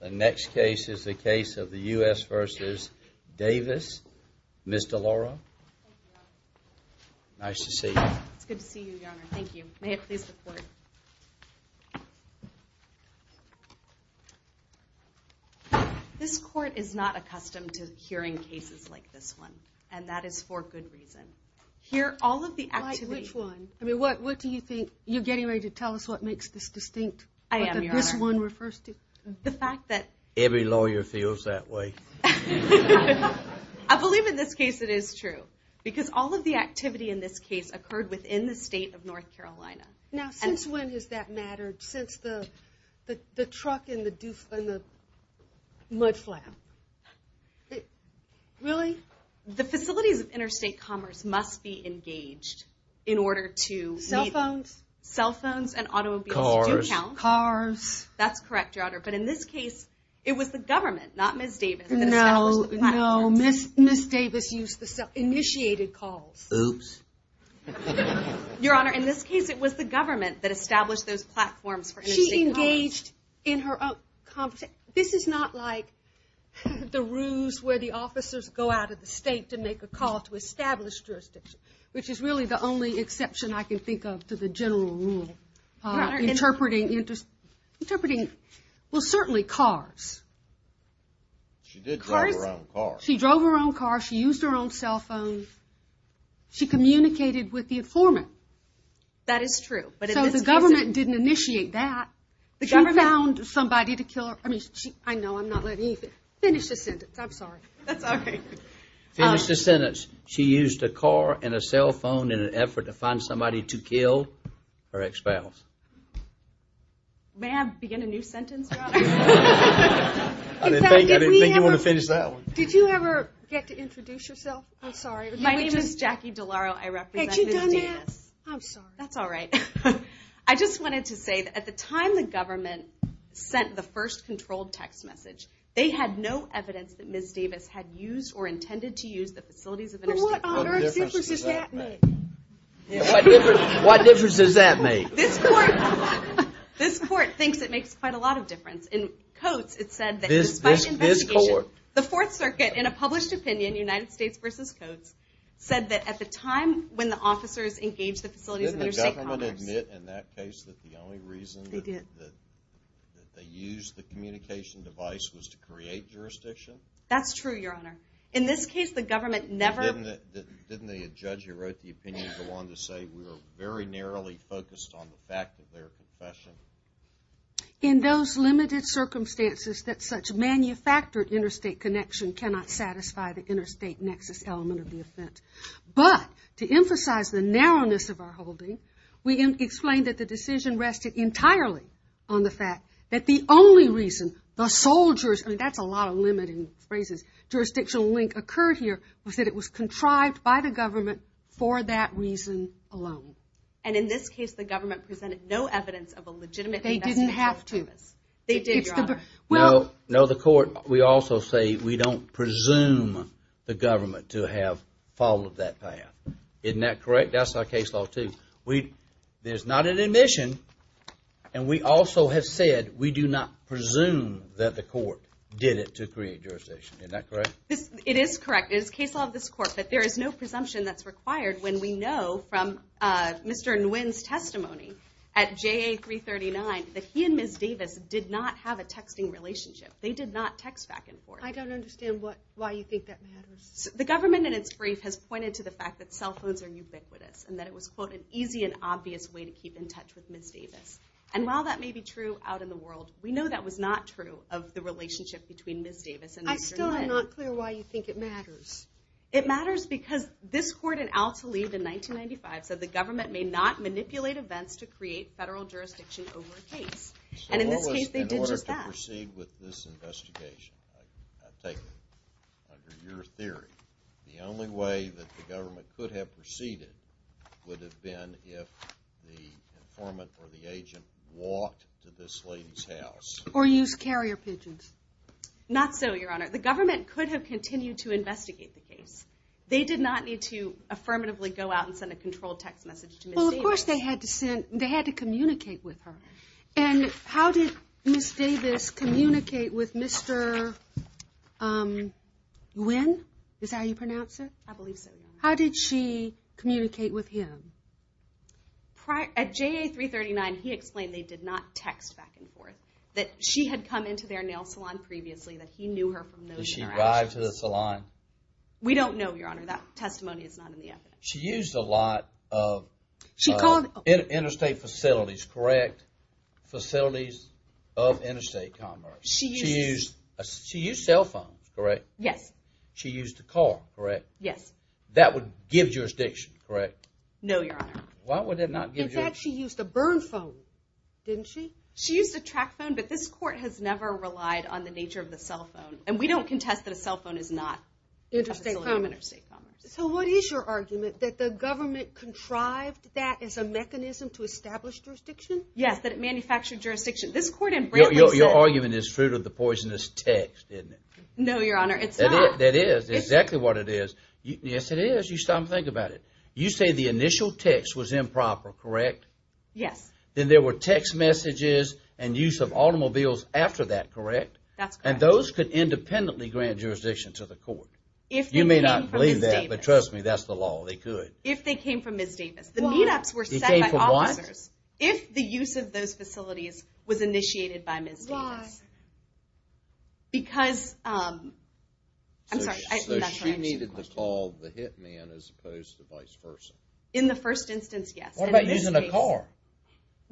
The next case is the case of the U.S. v. Davis. Ms. DeLauro. Thank you, Your Honor. Nice to see you. It's good to see you, Your Honor. Thank you. May it please the Court. This Court is not accustomed to hearing cases like this one, and that is for good reason. Here, all of the activities... Like which one? I mean, what do you think? You're getting ready to tell us what makes this distinct? I am, Your Honor. What this one refers to? The fact that... Every lawyer feels that way. I believe in this case it is true, because all of the activity in this case occurred within the state of North Carolina. Now, since when has that mattered? Since the truck and the mudflap? Really? The facilities of interstate commerce must be engaged in order to... Cell phones? Cell phones and automobiles do count. Cars? That's correct, Your Honor. But in this case, it was the government, not Ms. Davis, that established the platforms. No, no. Ms. Davis used the cell... initiated calls. Oops. Your Honor, in this case, it was the government that established those platforms for... She engaged in her own... This is not like the ruse where the officers go out of the state to make a call to establish jurisdiction, which is really the only exception I can think of to the general rule. Your Honor... Interpreting... well, certainly cars. She did drive her own car. She drove her own car. She used her own cell phone. She communicated with the informant. That is true, but in this case... So the government didn't initiate that. The government... She found somebody to kill her... I mean, she... I know, I'm not letting you finish the sentence. I'm sorry. That's all right. Finish the sentence. She used a car and a cell phone in an effort to find somebody to kill her ex-spouse. May I begin a new sentence, Your Honor? I didn't think you wanted to finish that one. Did you ever get to introduce yourself? I'm sorry. My name is Jackie DeLauro. I represent Ms. Davis. Had you done that? I'm sorry. That's all right. I just wanted to say that at the time the government sent the first controlled text message, they had no evidence that Ms. Davis had used or intended to use the Facilities of Interstate Commerce. What difference does that make? What difference does that make? This Court thinks it makes quite a lot of difference. In Coates, it said that despite investigation... This Court... The Fourth Circuit, in a published opinion, United States v. Coates, said that at the time when the officers engaged the Facilities of Interstate Commerce... Didn't the government admit in that case that the only reason that they used the communication device was to create jurisdiction? That's true, Your Honor. In this case, the government never... Didn't the judge who wrote the opinion go on to say, we were very narrowly focused on the fact of their confession? In those limited circumstances that such manufactured interstate connection cannot satisfy the interstate nexus element of the offense. But to emphasize the narrowness of our holding, we explained that the decision rested entirely on the fact that the only reason the soldiers... I mean, that's a lot of limiting phrases. Jurisdictional link occurred here was that it was contrived by the government for that reason alone. And in this case, the government presented no evidence of a legitimate... They didn't have to. They did, Your Honor. No, the Court... We also say we don't presume the government to have followed that path. Isn't that correct? That's our case law, too. There's not an admission. And we also have said we do not presume that the Court did it to create jurisdiction. Isn't that correct? It is correct. It is case law of this Court, but there is no presumption that's required when we know from Mr. Nguyen's testimony at JA 339 that he and Ms. Davis did not have a texting relationship. They did not text back and forth. I don't understand why you think that matters. The government in its brief has pointed to the fact that cell phones are ubiquitous and that it was, quote, an easy and obvious way to keep in touch with Ms. Davis. And while that may be true out in the world, we know that was not true of the relationship between Ms. Davis and Mr. Nguyen. I still am not clear why you think it matters. It matters because this Court in Al-Talib in 1995 said the government may not manipulate events to create federal jurisdiction over a case. And in this case, they did just that. So what was in order to proceed with this investigation? I take it, under your theory, the only way that the government could have proceeded would have been if the informant or the agent walked to this lady's house. Or used carrier pigeons. Not so, Your Honor. The government could have continued to investigate the case. They did not need to affirmatively go out and send a controlled text message to Ms. Davis. Well, of course they had to send, they had to communicate with her. And how did Ms. Davis communicate with Mr. Nguyen? Is that how you pronounce it? I believe so, Your Honor. How did she communicate with him? At JA-339, he explained they did not text back and forth. That she had come into their nail salon previously, that he knew her from those interactions. Did she drive to the salon? We don't know, Your Honor. That testimony is not in the evidence. She used a lot of interstate facilities, correct? Facilities of interstate commerce. She used cell phones, correct? Yes. She used a car, correct? Yes. That would give jurisdiction, correct? No, Your Honor. Why would it not give jurisdiction? In fact, she used a burn phone, didn't she? She used a track phone, but this court has never relied on the nature of the cell phone. And we don't contest that a cell phone is not a facility of interstate commerce. So what is your argument? That the government contrived that as a mechanism to establish jurisdiction? Yes, that it manufactured jurisdiction. This court in Brantley said- Your argument is fruit of the poisonous text, isn't it? No, Your Honor. It's not. That is exactly what it is. Yes, it is. You stop and think about it. You say the initial text was improper, correct? Yes. Then there were text messages and use of automobiles after that, correct? And those could independently grant jurisdiction to the court. If they came from Ms. Davis. You may not believe that, but trust me, that's the law. They could. If they came from Ms. Davis. Why? The meet-ups were set by officers. They came from what? If the use of those facilities was initiated by Ms. Davis. Why? Because- I'm sorry. So she needed to call the hit man as opposed to vice versa? In the first instance, yes. What about using a car?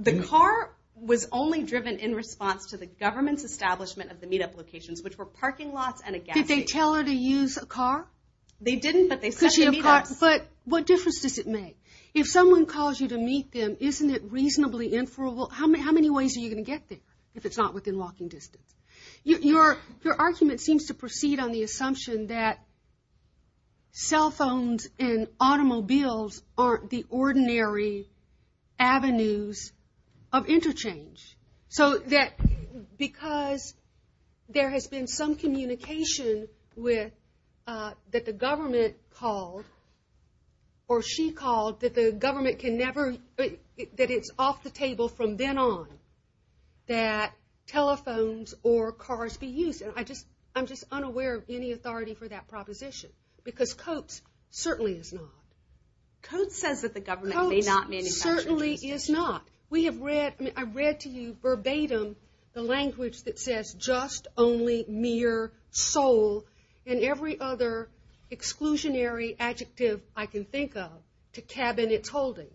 The car was only driven in response to the government's establishment of the meet-up locations, which were parking lots and a gas station. Did they tell her to use a car? They didn't, but they set the meet-ups. But what difference does it make? If someone calls you to meet them, isn't it reasonably inferable? How many ways are you going to get there if it's not within walking distance? Your argument seems to proceed on the assumption that cell phones and automobiles aren't the ordinary avenues of interchange. So that because there has been some communication that the government called, or she called, that the government can never- that it's off the table from then on that telephones or cars be used. And I'm just unaware of any authority for that proposition, because Coates certainly is not. Coates says that the government may not manufacture- Coates certainly is not. We have read- I mean, I've read to you verbatim the language that says, just, only, mere, sole, and every other exclusionary adjective I can think of to cabin its holding,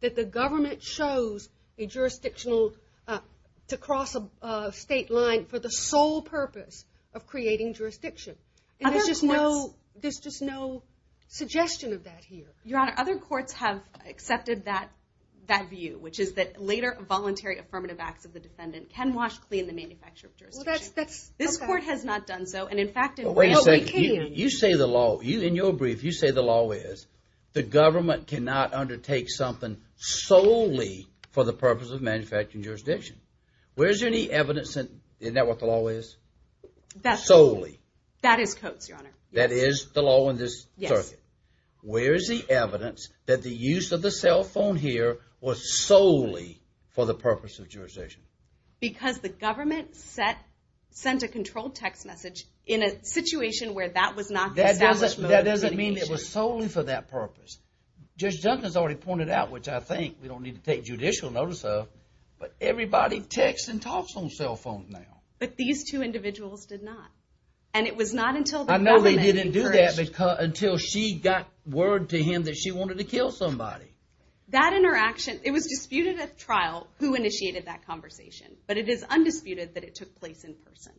that the government chose a jurisdictional- to cross a state line for the sole purpose of creating jurisdiction. There's just no suggestion of that here. Your Honor, other courts have accepted that view, which is that later voluntary affirmative acts of the defendant can wash clean the manufacture of jurisdiction. This court has not done so, and in fact- Wait a second. You say the law- in your brief, you say the law is, the government cannot undertake something solely for the purpose of manufacturing jurisdiction. Where's any evidence that- isn't that what the law is? That's- Solely. That is Coates, Your Honor. That is the law in this circuit? Yes. Where's the evidence that the use of the cell phone here was solely for the purpose of jurisdiction? Because the government sent a controlled text message in a situation where that was not established. That doesn't mean it was solely for that purpose. Judge Duncan's already pointed out, which I think we don't need to take judicial notice of, but everybody texts and talks on cell phones now. But these two individuals did not. And it was not until the government encouraged- She got word to him that she wanted to kill somebody. That interaction- it was disputed at trial who initiated that conversation, but it is undisputed that it took place in person.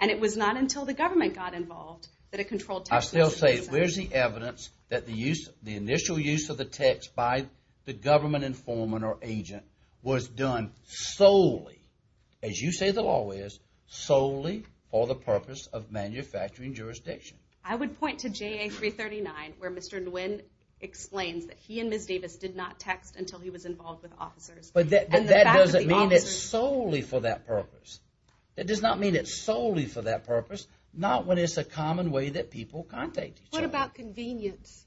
And it was not until the government got involved that a controlled text message was sent. I still say, where's the evidence that the initial use of the text by the government informant or agent was done solely, as you say the law is, solely for the purpose of manufacturing jurisdiction? I would point to JA 339 where Mr. Nguyen explains that he and Ms. Davis did not text until he was involved with officers. But that doesn't mean it's solely for that purpose. It does not mean it's solely for that purpose, not when it's a common way that people contact each other. What about convenience?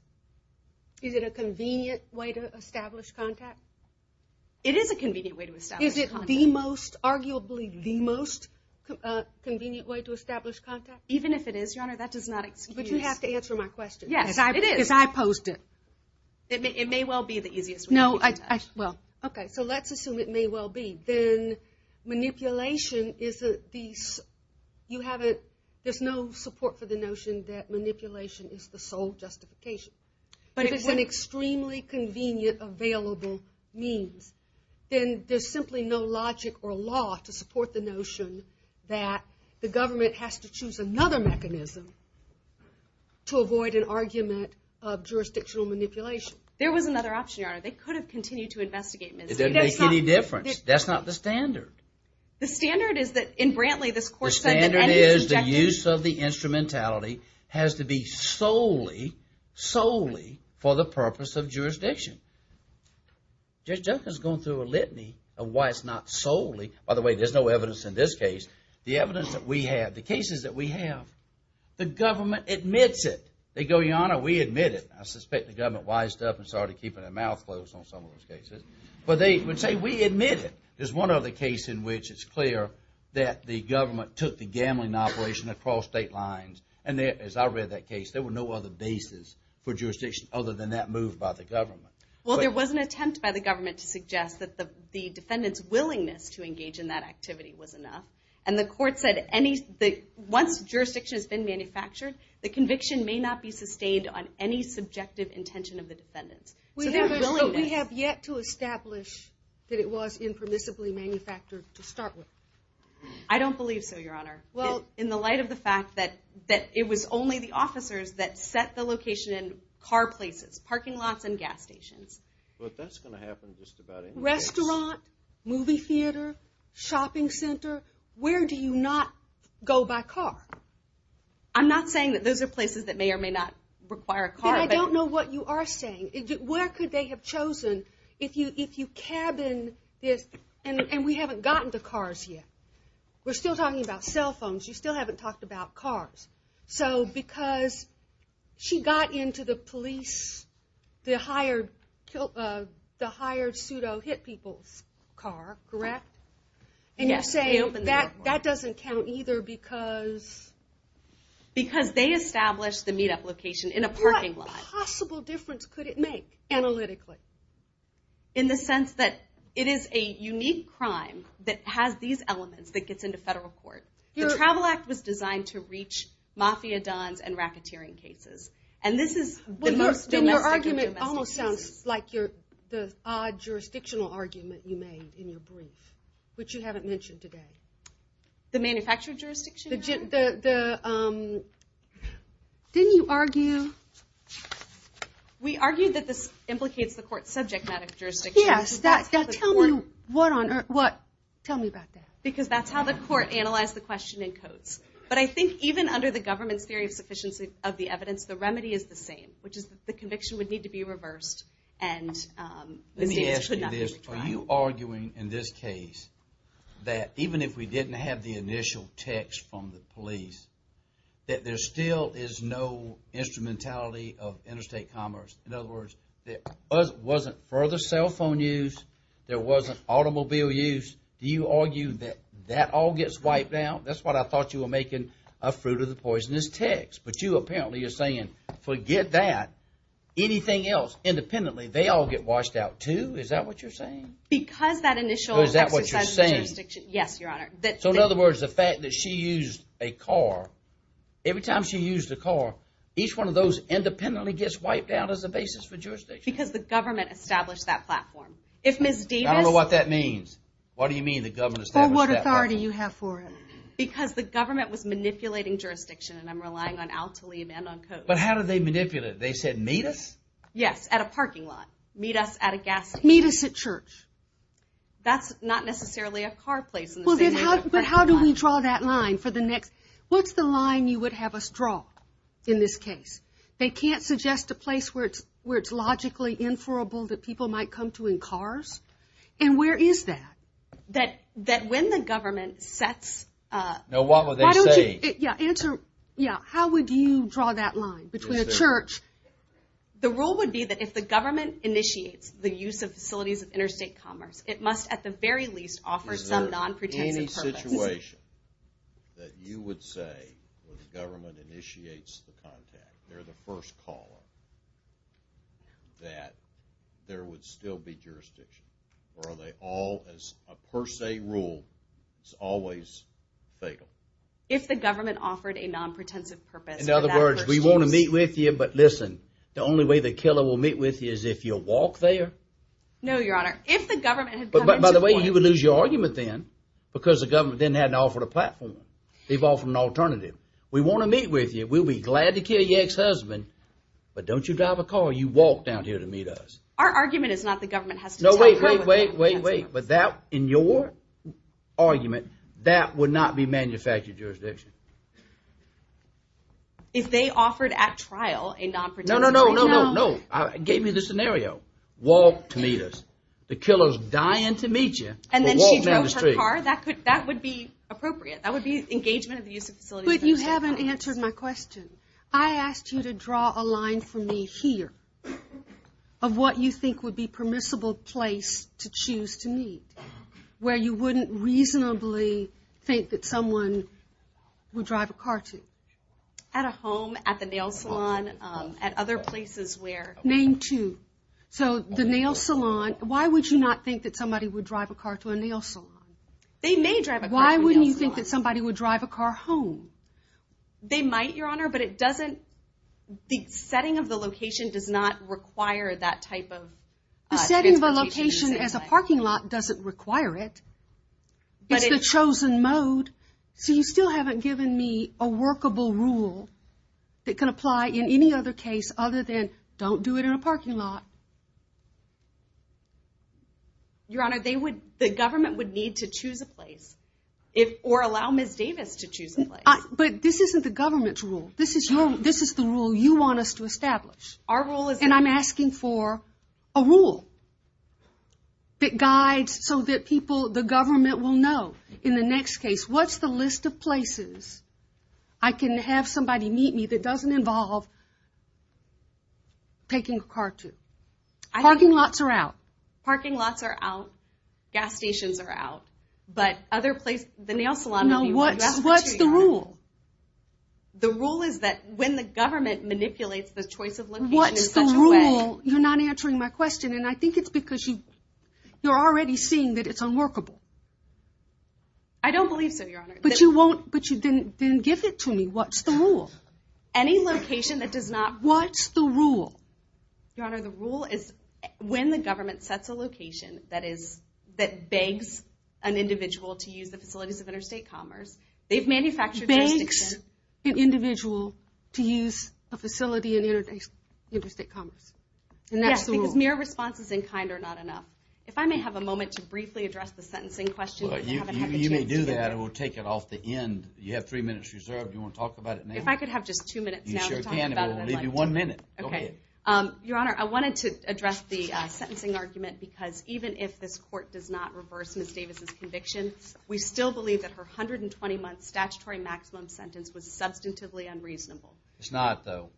Is it a convenient way to establish contact? It is a convenient way to establish contact. Is it the most, arguably the most convenient way to establish contact? Even if it is, Your Honor, that does not excuse- But you have to answer my question. Yes, it is. Because I posed it. It may well be the easiest way. No, well- Okay, so let's assume it may well be. Then manipulation is the- you have a- there's no support for the notion that manipulation is the sole justification. But if it's an extremely convenient, available means, then there's simply no logic or law to support the notion that the government has to choose another mechanism to avoid an argument of jurisdictional manipulation. There was another option, Your Honor. They could have continued to investigate Ms. Davis. It doesn't make any difference. That's not the standard. The standard is that in Brantley, this court said that- The standard is the use of the instrumentality has to be solely, solely for the purpose of jurisdiction. Judge Duncan's gone through a litany of why it's not solely- By the way, there's no evidence in this case. The evidence that we have, the cases that we have, the government admits it. They go, Your Honor, we admit it. I suspect the government wised up and started keeping their mouth closed on some of those cases. But they would say, we admit it. There's one other case in which it's clear that the government took the gambling operation across state lines. And as I read that case, there were no other bases for jurisdiction other than that moved by the government. Well, there was an attempt by the government to suggest that the defendant's willingness to engage in that activity was enough. And the court said once jurisdiction has been manufactured, the conviction may not be sustained on any subjective intention of the defendant. We have yet to establish that it was impermissibly manufactured to start with. I don't believe so, Your Honor. Well, in the light of the fact that it was only the officers that set the location in car places, parking lots and gas stations. But that's going to happen just about anywhere else. Restaurant, movie theater, shopping center, where do you not go by car? I'm not saying that those are places that may or may not require a car. Then I don't know what you are saying. Where could they have chosen if you cabin this, and we haven't gotten to cars yet. We're still talking about cell phones. You still haven't talked about cars. So because she got into the police, the hired pseudo hit people's car, correct? And you're saying that doesn't count either because? Because they established the meetup location in a parking lot. What possible difference could it make analytically? In the sense that it is a unique crime that has these elements that gets into federal court. The Travel Act was designed to reach mafia dons and racketeering cases. And this is the most domestic of domestic cases. Your argument almost sounds like the odd jurisdictional argument you made in your brief, which you haven't mentioned today. The manufactured jurisdiction, Your Honor? Didn't you argue? We argued that this implicates the court's subject matter jurisdiction. Yes, tell me about that. Because that's how the court analyzed the question in Coates. But I think even under the government's theory of sufficiency of the evidence, the remedy is the same. Which is the conviction would need to be reversed. Let me ask you this. Are you arguing in this case that even if we didn't have the initial text from the police, that there still is no instrumentality of interstate commerce? In other words, there wasn't further cell phone use. There wasn't automobile use. Do you argue that that all gets wiped out? That's what I thought you were making a fruit of the poisonous text. But you apparently are saying, forget that. Anything else, independently, they all get washed out too? Is that what you're saying? Because that initial... Is that what you're saying? Yes, Your Honor. So in other words, the fact that she used a car, every time she used a car, each one of those independently gets wiped out as a basis for jurisdiction? Because the government established that platform. I don't know what that means. What do you mean the government established that platform? What authority do you have for it? Because the government was manipulating jurisdiction, and I'm relying on Al Tlaib and on Coates. But how did they manipulate it? They said, meet us? Yes, at a parking lot. Meet us at a gas station. Meet us at church. That's not necessarily a car place. But how do we draw that line for the next... What's the line you would have us draw in this case? They can't suggest a place where it's logically inferable that people might come to in cars? And where is that? That when the government sets... What were they saying? Answer. How would you draw that line between a church... The rule would be that if the government initiates the use of facilities of interstate commerce, it must at the very least offer some non-pretensive purpose. Is there any situation that you would say where the government initiates the contact, they're the first caller, that there would still be jurisdiction? Or are they all, as a per se rule, always fatal? If the government offered a non-pretensive purpose... In other words, we want to meet with you, but listen, the only way the killer will meet with you is if you walk there? No, Your Honor. If the government had come into point... By the way, you would lose your argument then because the government then hadn't offered a platform. They've offered an alternative. We want to meet with you. We'll be glad to kill your ex-husband, but don't you drive a car. You walk down here to meet us. Our argument is not the government has to tell you... No, wait, wait, wait, wait, wait. But that, in your argument, that would not be manufactured jurisdiction. If they offered at trial a non-pretensive... No, no, no, no, no, no. I gave you the scenario. Walk to meet us. The killer's dying to meet you, but walk down the street. And then she drove her car? That would be appropriate. That would be engagement of the use of facilities... But you haven't answered my question. I asked you to draw a line for me here of what you think would be permissible place to choose to meet where you wouldn't reasonably think that someone would drive a car to. At a home, at the nail salon, at other places where... Name two. So the nail salon, why would you not think that somebody would drive a car to a nail salon? They may drive a car to a nail salon. Why wouldn't you think that somebody would drive a car home? They might, Your Honor, but it doesn't... The setting of the location does not require that type of transportation. The setting of a location as a parking lot doesn't require it. It's the chosen mode. So you still haven't given me a workable rule that can apply in any other case other than don't do it in a parking lot. Your Honor, the government would need to choose a place or allow Ms. Davis to choose a place. But this isn't the government's rule. This is the rule you want us to establish. And I'm asking for a rule that guides so that people, the government, will know in the next case. What's the list of places I can have somebody meet me that doesn't involve taking a car to? Parking lots are out. Parking lots are out. Gas stations are out. But other places, the nail salon... No, what's the rule? The rule is that when the government manipulates the choice of location in such a way... What's the rule? You're not answering my question. And I think it's because you're already seeing that it's unworkable. I don't believe so, Your Honor. But you didn't give it to me. What's the rule? Any location that does not... What's the rule? Your Honor, the rule is when the government sets a location that begs an individual to use the facilities of interstate commerce... Begs an individual to use a facility in interstate commerce. Yes, because mere responses in kind are not enough. If I may have a moment to briefly address the sentencing question... You may do that, and we'll take it off the end. You have three minutes reserved. Do you want to talk about it now? If I could have just two minutes now to talk about it, I'd like to. You sure can, but we'll leave you one minute. Okay. Your Honor, I wanted to address the sentencing argument because even if this court does not reverse Ms. Davis' conviction, we still believe that her 120-month statutory maximum sentence was substantively unreasonable. It's not, though.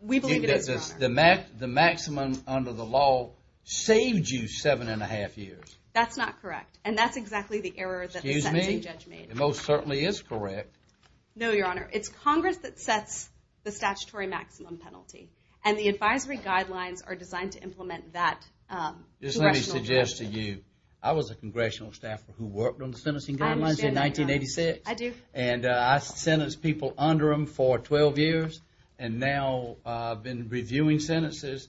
We believe it is, Your Honor. Because the maximum under the law saved you seven and a half years. That's not correct, and that's exactly the error that the sentencing judge made. It most certainly is correct. No, Your Honor. It's Congress that sets the statutory maximum penalty, and the advisory guidelines are designed to implement that. Just let me suggest to you, I was a congressional staffer who worked on the sentencing guidelines in 1986. I do. And I sentenced people under them for 12 years, and now I've been reviewing sentences.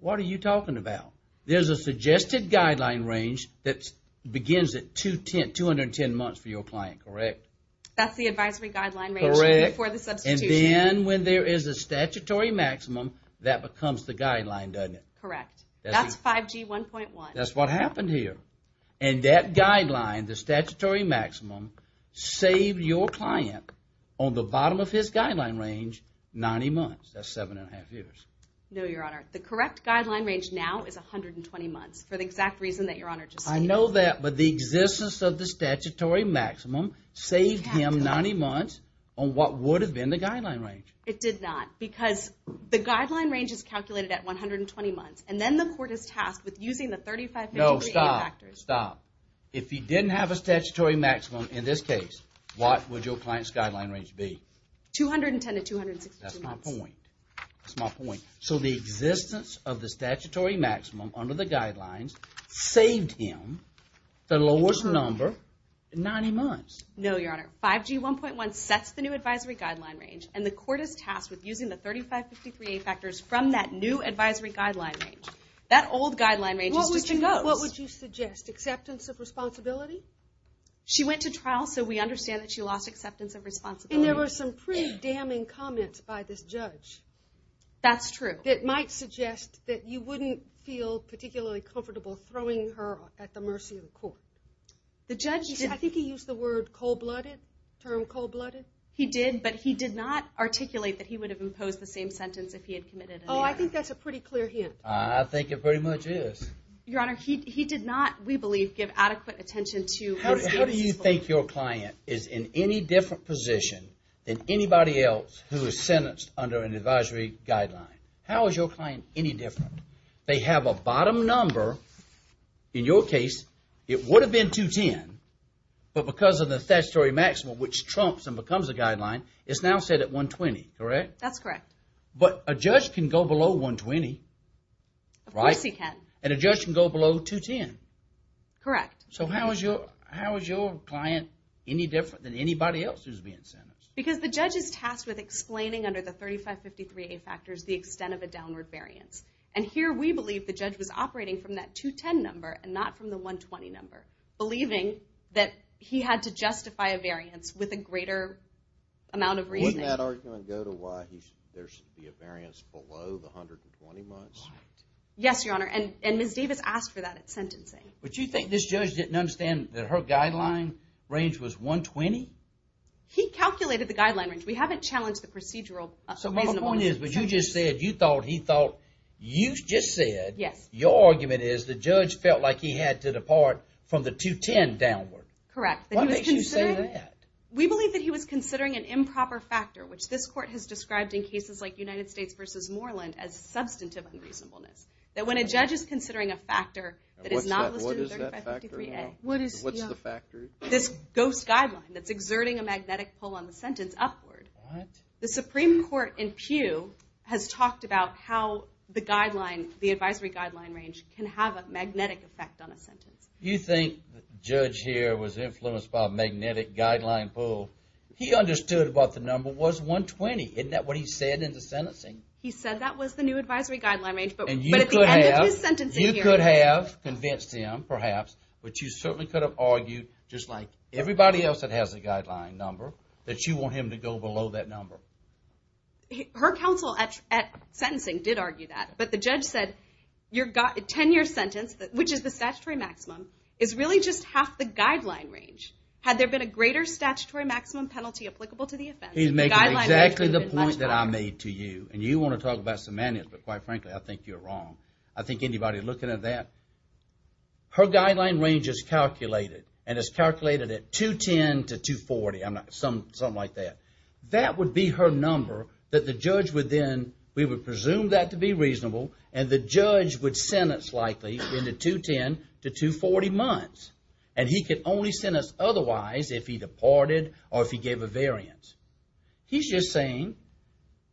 What are you talking about? There's a suggested guideline range that begins at 210 months for your client, correct? That's the advisory guideline range. Correct. Before the substitution. And then when there is a statutory maximum, that becomes the guideline, doesn't it? Correct. That's 5G 1.1. That's what happened here. And that guideline, the statutory maximum, saved your client on the bottom of his guideline range 90 months. That's seven and a half years. No, Your Honor. The correct guideline range now is 120 months for the exact reason that Your Honor just stated. I know that, but the existence of the statutory maximum saved him 90 months on what would have been the guideline range. It did not. Because the guideline range is calculated at 120 months, and then the court is tasked with using the 3550 factors. No, stop. Stop. If he didn't have a statutory maximum in this case, what would your client's guideline range be? 210 to 262 months. That's my point. That's my point. So the existence of the statutory maximum under the guidelines saved him the lowest number 90 months. No, Your Honor. 5G 1.1 sets the new advisory guideline range, and the court is tasked with using the 3550 factors from that new advisory guideline range. That old guideline range is just a ghost. What would you suggest? Acceptance of responsibility? She went to trial, so we understand that she lost acceptance of responsibility. And there were some pretty damning comments by this judge. That's true. That might suggest that you wouldn't feel particularly comfortable throwing her at the mercy of the court. The judge, I think he used the term cold-blooded. He did, but he did not articulate that he would have imposed the same sentence if he had committed an error. Oh, I think that's a pretty clear hint. I think it pretty much is. Your Honor, he did not, we believe, give adequate attention to his case. How do you think your client is in any different position than anybody else who is sentenced under an advisory guideline? How is your client any different? They have a bottom number. In your case, it would have been 210. But because of the statutory maximum, which trumps and becomes a guideline, it's now set at 120, correct? That's correct. But a judge can go below 120, right? Of course he can. And a judge can go below 210. Correct. So how is your client any different than anybody else who is being sentenced? Because the judge is tasked with explaining under the 3553A factors the extent of a downward variance. And here we believe the judge was operating from that 210 number and not from the 120 number, believing that he had to justify a variance with a greater amount of reasoning. Wouldn't that argument go to why there should be a variance below the 120 marks? Yes, Your Honor, and Ms. Davis asked for that at sentencing. But you think this judge didn't understand that her guideline range was 120? He calculated the guideline range. We haven't challenged the procedural reasonableness. So my point is, what you just said, you thought he thought you just said, your argument is the judge felt like he had to depart from the 210 downward. Correct. What makes you say that? We believe that he was considering an improper factor, which this court has described in cases like United States v. Moreland as substantive unreasonableness. That when a judge is considering a factor that is not listed in 3553A, what is the factor? This ghost guideline that's exerting a magnetic pull on the sentence upward. What? The Supreme Court in Pew has talked about how the guideline, the advisory guideline range can have a magnetic effect on a sentence. You think the judge here was influenced by a magnetic guideline pull. He understood what the number was 120. Isn't that what he said in the sentencing? He said that was the new advisory guideline range. But at the end of his sentencing hearing. You could have convinced him, perhaps, but you certainly could have argued just like everybody else that has a guideline number, that you want him to go below that number. Her counsel at sentencing did argue that. But the judge said your tenure sentence, which is the statutory maximum, is really just half the guideline range. Had there been a greater statutory maximum penalty applicable to the offense. He's making exactly the point that I made to you. And you want to talk about semantics, but quite frankly, I think you're wrong. I think anybody looking at that, her guideline range is calculated. And it's calculated at 210 to 240. Something like that. That would be her number that the judge would then, we would presume that to be reasonable, and the judge would sentence likely in the 210 to 240 months. And he could only sentence otherwise if he departed or if he gave a variance. He's just saying,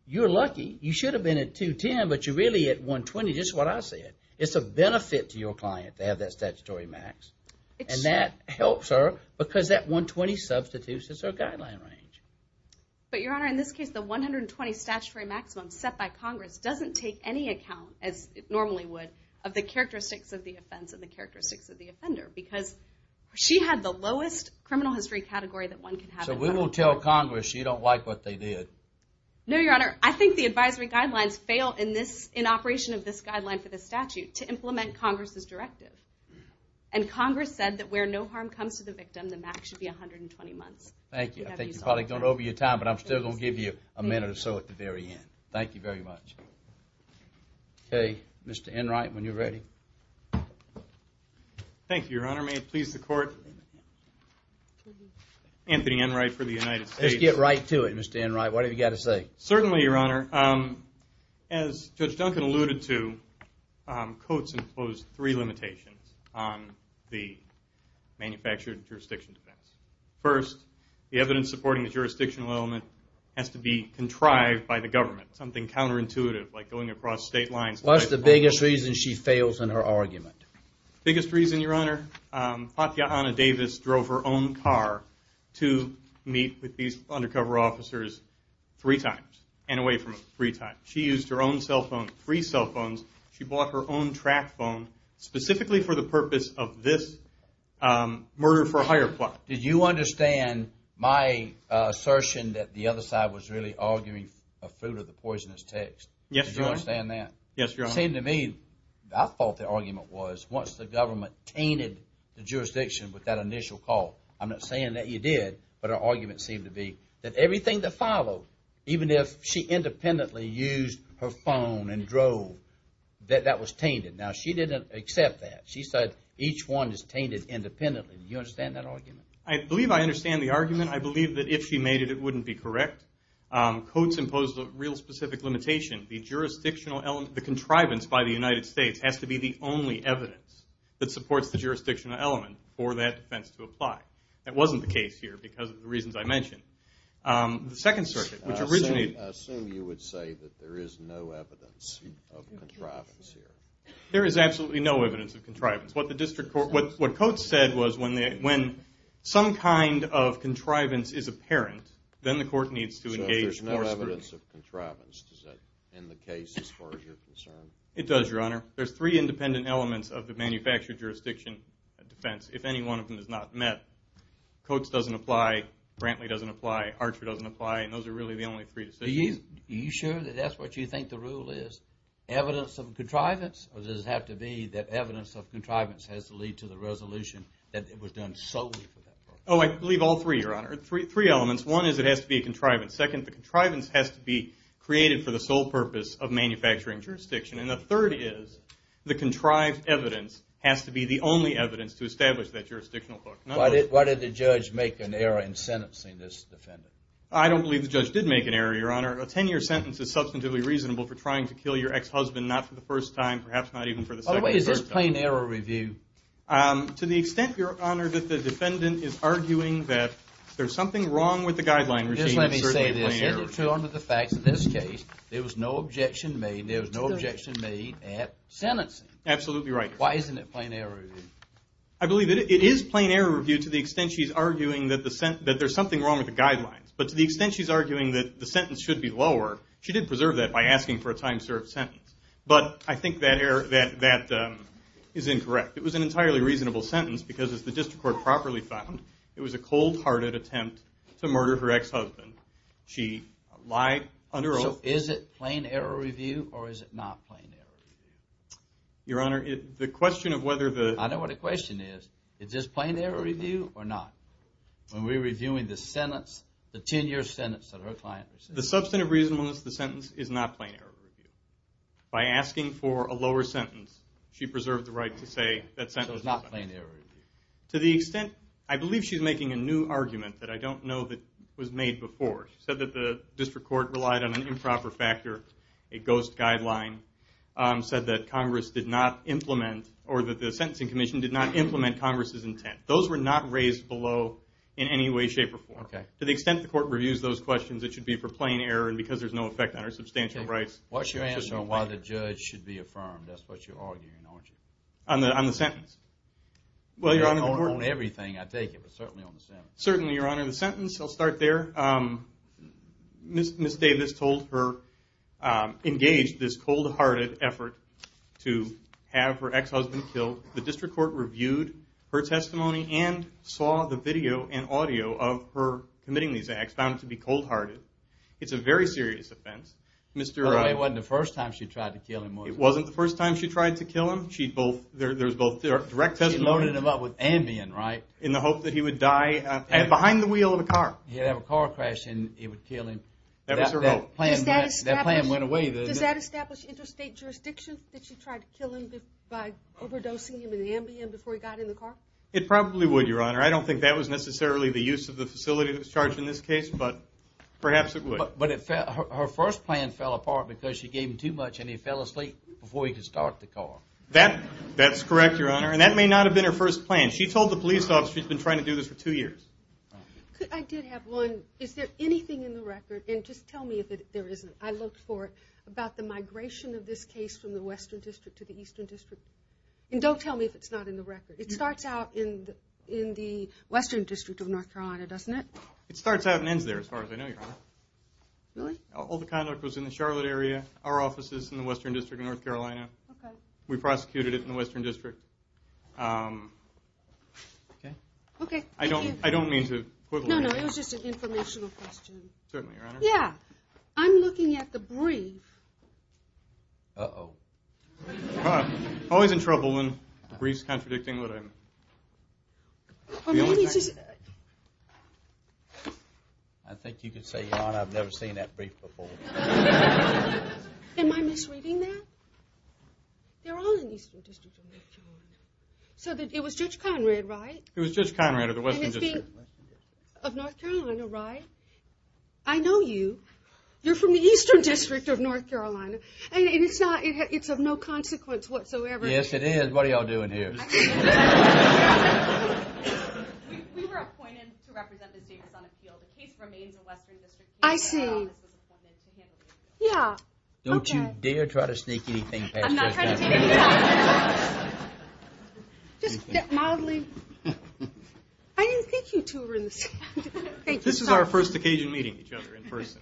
you're lucky. You should have been at 210, but you're really at 120, just what I said. It's a benefit to your client to have that statutory max. And that helps her because that 120 substitutes is her guideline range. But, Your Honor, in this case, the 120 statutory maximum set by Congress doesn't take any account, as it normally would, of the characteristics of the offense and the characteristics of the offender. Because she had the lowest criminal history category that one can have in Congress. So we won't tell Congress you don't like what they did. No, Your Honor, I think the advisory guidelines fail in operation of this guideline for the statute to implement Congress's directive. And Congress said that where no harm comes to the victim, the max should be 120 months. Thank you. I think you've probably gone over your time, but I'm still going to give you a minute or so at the very end. Thank you very much. Okay, Mr. Enright, when you're ready. Thank you, Your Honor. May it please the Court? Anthony Enright for the United States. Let's get right to it, Mr. Enright. What have you got to say? Certainly, Your Honor. As Judge Duncan alluded to, Coates imposed three limitations on the manufactured jurisdiction defense. First, the evidence supporting the jurisdictional element has to be contrived by the government. Something counterintuitive, like going across state lines. What's the biggest reason she fails in her argument? The biggest reason, Your Honor, Fathiana Davis drove her own car to meet with these undercover officers three times and away from them three times. She used her own cell phone, three cell phones. She bought her own track phone, specifically for the purpose of this murder-for-hire plot. Did you understand my assertion that the other side was really arguing the fruit of the poisonous text? Yes, Your Honor. Did you understand that? Yes, Your Honor. It seemed to me, I thought the argument was, once the government tainted the jurisdiction with that initial call, I'm not saying that you did, but our argument seemed to be that everything that followed, even if she independently used her phone and drove, that that was tainted. Now, she didn't accept that. She said each one is tainted independently. Do you understand that argument? I believe I understand the argument. I believe that if she made it, it wouldn't be correct. Codes impose a real specific limitation. The jurisdictional element, the contrivance by the United States, has to be the only evidence that supports the jurisdictional element for that defense to apply. That wasn't the case here because of the reasons I mentioned. The Second Circuit, which originated... I assume you would say that there is no evidence of contrivance here. There is absolutely no evidence of contrivance. What the district court, what Codes said was when some kind of contrivance is apparent, then the court needs to engage forcefully. So there's no evidence of contrivance, does that, in the case as far as you're concerned? It does, Your Honor. There's three independent elements of the manufactured jurisdiction defense. If any one of them is not met, Codes doesn't apply, Brantley doesn't apply, Archer doesn't apply, and those are really the only three decisions. Are you sure that that's what you think the rule is? Evidence of contrivance? Or does it have to be that evidence of contrivance has to lead to the resolution that was done solely for that purpose? Oh, I believe all three, Your Honor. Three elements. One is it has to be a contrivance. Second, the contrivance has to be created for the sole purpose of manufacturing jurisdiction. And the third is the contrived evidence has to be the only evidence to establish that jurisdictional book. Why did the judge make an error in sentencing this defendant? I don't believe the judge did make an error, Your Honor. A 10-year sentence is substantively reasonable for trying to kill your ex-husband not for the first time, perhaps not even for the second or third time. What is this plain error review? To the extent, Your Honor, that the defendant is arguing that there's something wrong with the guideline regime, it's certainly a plain error. Just let me say this. Is it true under the facts in this case there was no objection made, there was no objection made at sentencing? Absolutely right. Why isn't it plain error review? I believe that it is plain error review to the extent she's arguing that there's something wrong with the guidelines. But to the extent she's arguing that the sentence should be lower, she did preserve that by asking for a time-served sentence. But I think that is incorrect. It was an entirely reasonable sentence because, as the district court properly found, it was a cold-hearted attempt to murder her ex-husband. She lied under oath. So is it plain error review or is it not plain error review? Your Honor, the question of whether the... I know what the question is. Is this plain error review or not? When we're reviewing the sentence, the 10-year sentence that her client received. The substantive reasonableness of the sentence is not plain error review. By asking for a lower sentence, she preserved the right to say that sentence... So it's not plain error review. To the extent, I believe she's making a new argument that I don't know that was made before. She said that the district court relied on an improper factor, a ghost guideline, said that Congress did not implement or that the Sentencing Commission did not implement Congress' intent. Those were not raised below in any way, shape, or form. To the extent the court reviews those questions, it should be for plain error and because there's no effect on her substantial rights. What's your answer on why the judge should be affirmed? That's what you're arguing, aren't you? On the sentence. Well, Your Honor, the court... On everything, I take it, but certainly on the sentence. Certainly, Your Honor. The sentence, I'll start there. Ms. Davis told her... engaged this cold-hearted effort to have her ex-husband killed. The district court reviewed her testimony and saw the video and audio of her committing these acts, found it to be cold-hearted. It's a very serious offense. It wasn't the first time she tried to kill him, was it? It wasn't the first time she tried to kill him. There's both direct testimony... She loaded him up with Ambien, right? In the hope that he would die behind the wheel of a car. He'd have a car crash and it would kill him. That was her hope. That plan went away. Does that establish interstate jurisdiction, that she tried to kill him by overdosing him in Ambien before he got in the car? It probably would, Your Honor. I don't think that was necessarily the use of the facility that was charged in this case, but perhaps it would. But her first plan fell apart because she gave him too much and he fell asleep before he could start the car. That's correct, Your Honor, and that may not have been her first plan. She told the police officer she's been trying to do this for two years. I did have one. Is there anything in the record, and just tell me if there isn't, I looked for it, about the migration of this case from the Western District to the Eastern District? And don't tell me if it's not in the record. It starts out in the Western District of North Carolina, doesn't it? It starts out and ends there, as far as I know, Your Honor. Really? All the conduct was in the Charlotte area. Our office is in the Western District of North Carolina. We prosecuted it in the Western District. Okay. Okay, thank you. I don't mean to quibble. No, no, it was just an informational question. Certainly, Your Honor. Yeah. I'm looking at the brief. Uh-oh. I'm always in trouble when the brief's contradicting what I meant. Well, maybe it's just... I think you could say, Your Honor, I've never seen that brief before. Am I misreading that? They're all in the Eastern District of North Carolina. So it was Judge Conrad, right? It was Judge Conrad of the Western District. Of North Carolina, right? I know you. You're from the Eastern District of North Carolina. And it's not, it's of no consequence whatsoever. Yes, it is. What are y'all doing here? We were appointed to represent the diggers on a field. The case remains in the Western District. I see. Yeah. Don't you dare try to sneak anything past Judge Conrad. I'm not trying to take anything. Just get mildly... I didn't think you two were in the same... This is our first occasion meeting each other in person.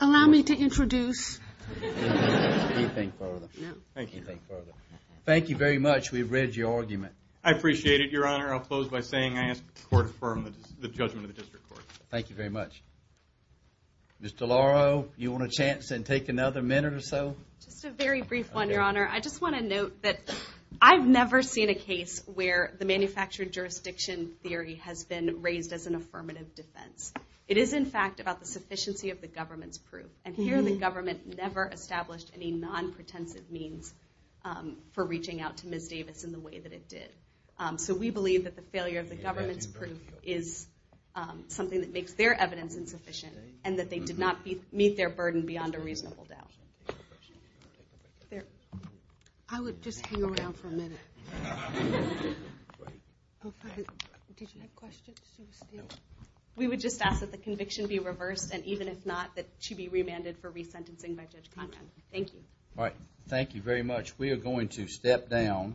Allow me to introduce... You think further. Thank you. Thank you very much. We've read your argument. I appreciate it, Your Honor. I'll close by saying I ask the Court to affirm the judgment of the District Court. Thank you very much. Mr. Lauro, you want a chance and take another minute or so? Just a very brief one, Your Honor. I just want to note that I've never seen a case where the manufactured jurisdiction theory has been raised as an affirmative defense. It is, in fact, about the sufficiency of the government's proof. And here the government never established any non-pretensive means for reaching out to Ms. Davis in the way that it did. So we believe that the failure of the government's proof is something that makes their evidence insufficient and that they did not meet their burden beyond a reasonable doubt. I would just hang around for a minute. We would just ask that the conviction be reversed and even if not, that she be remanded for resentencing by Judge Conrad. Thank you. All right. Thank you very much. We are going to step down.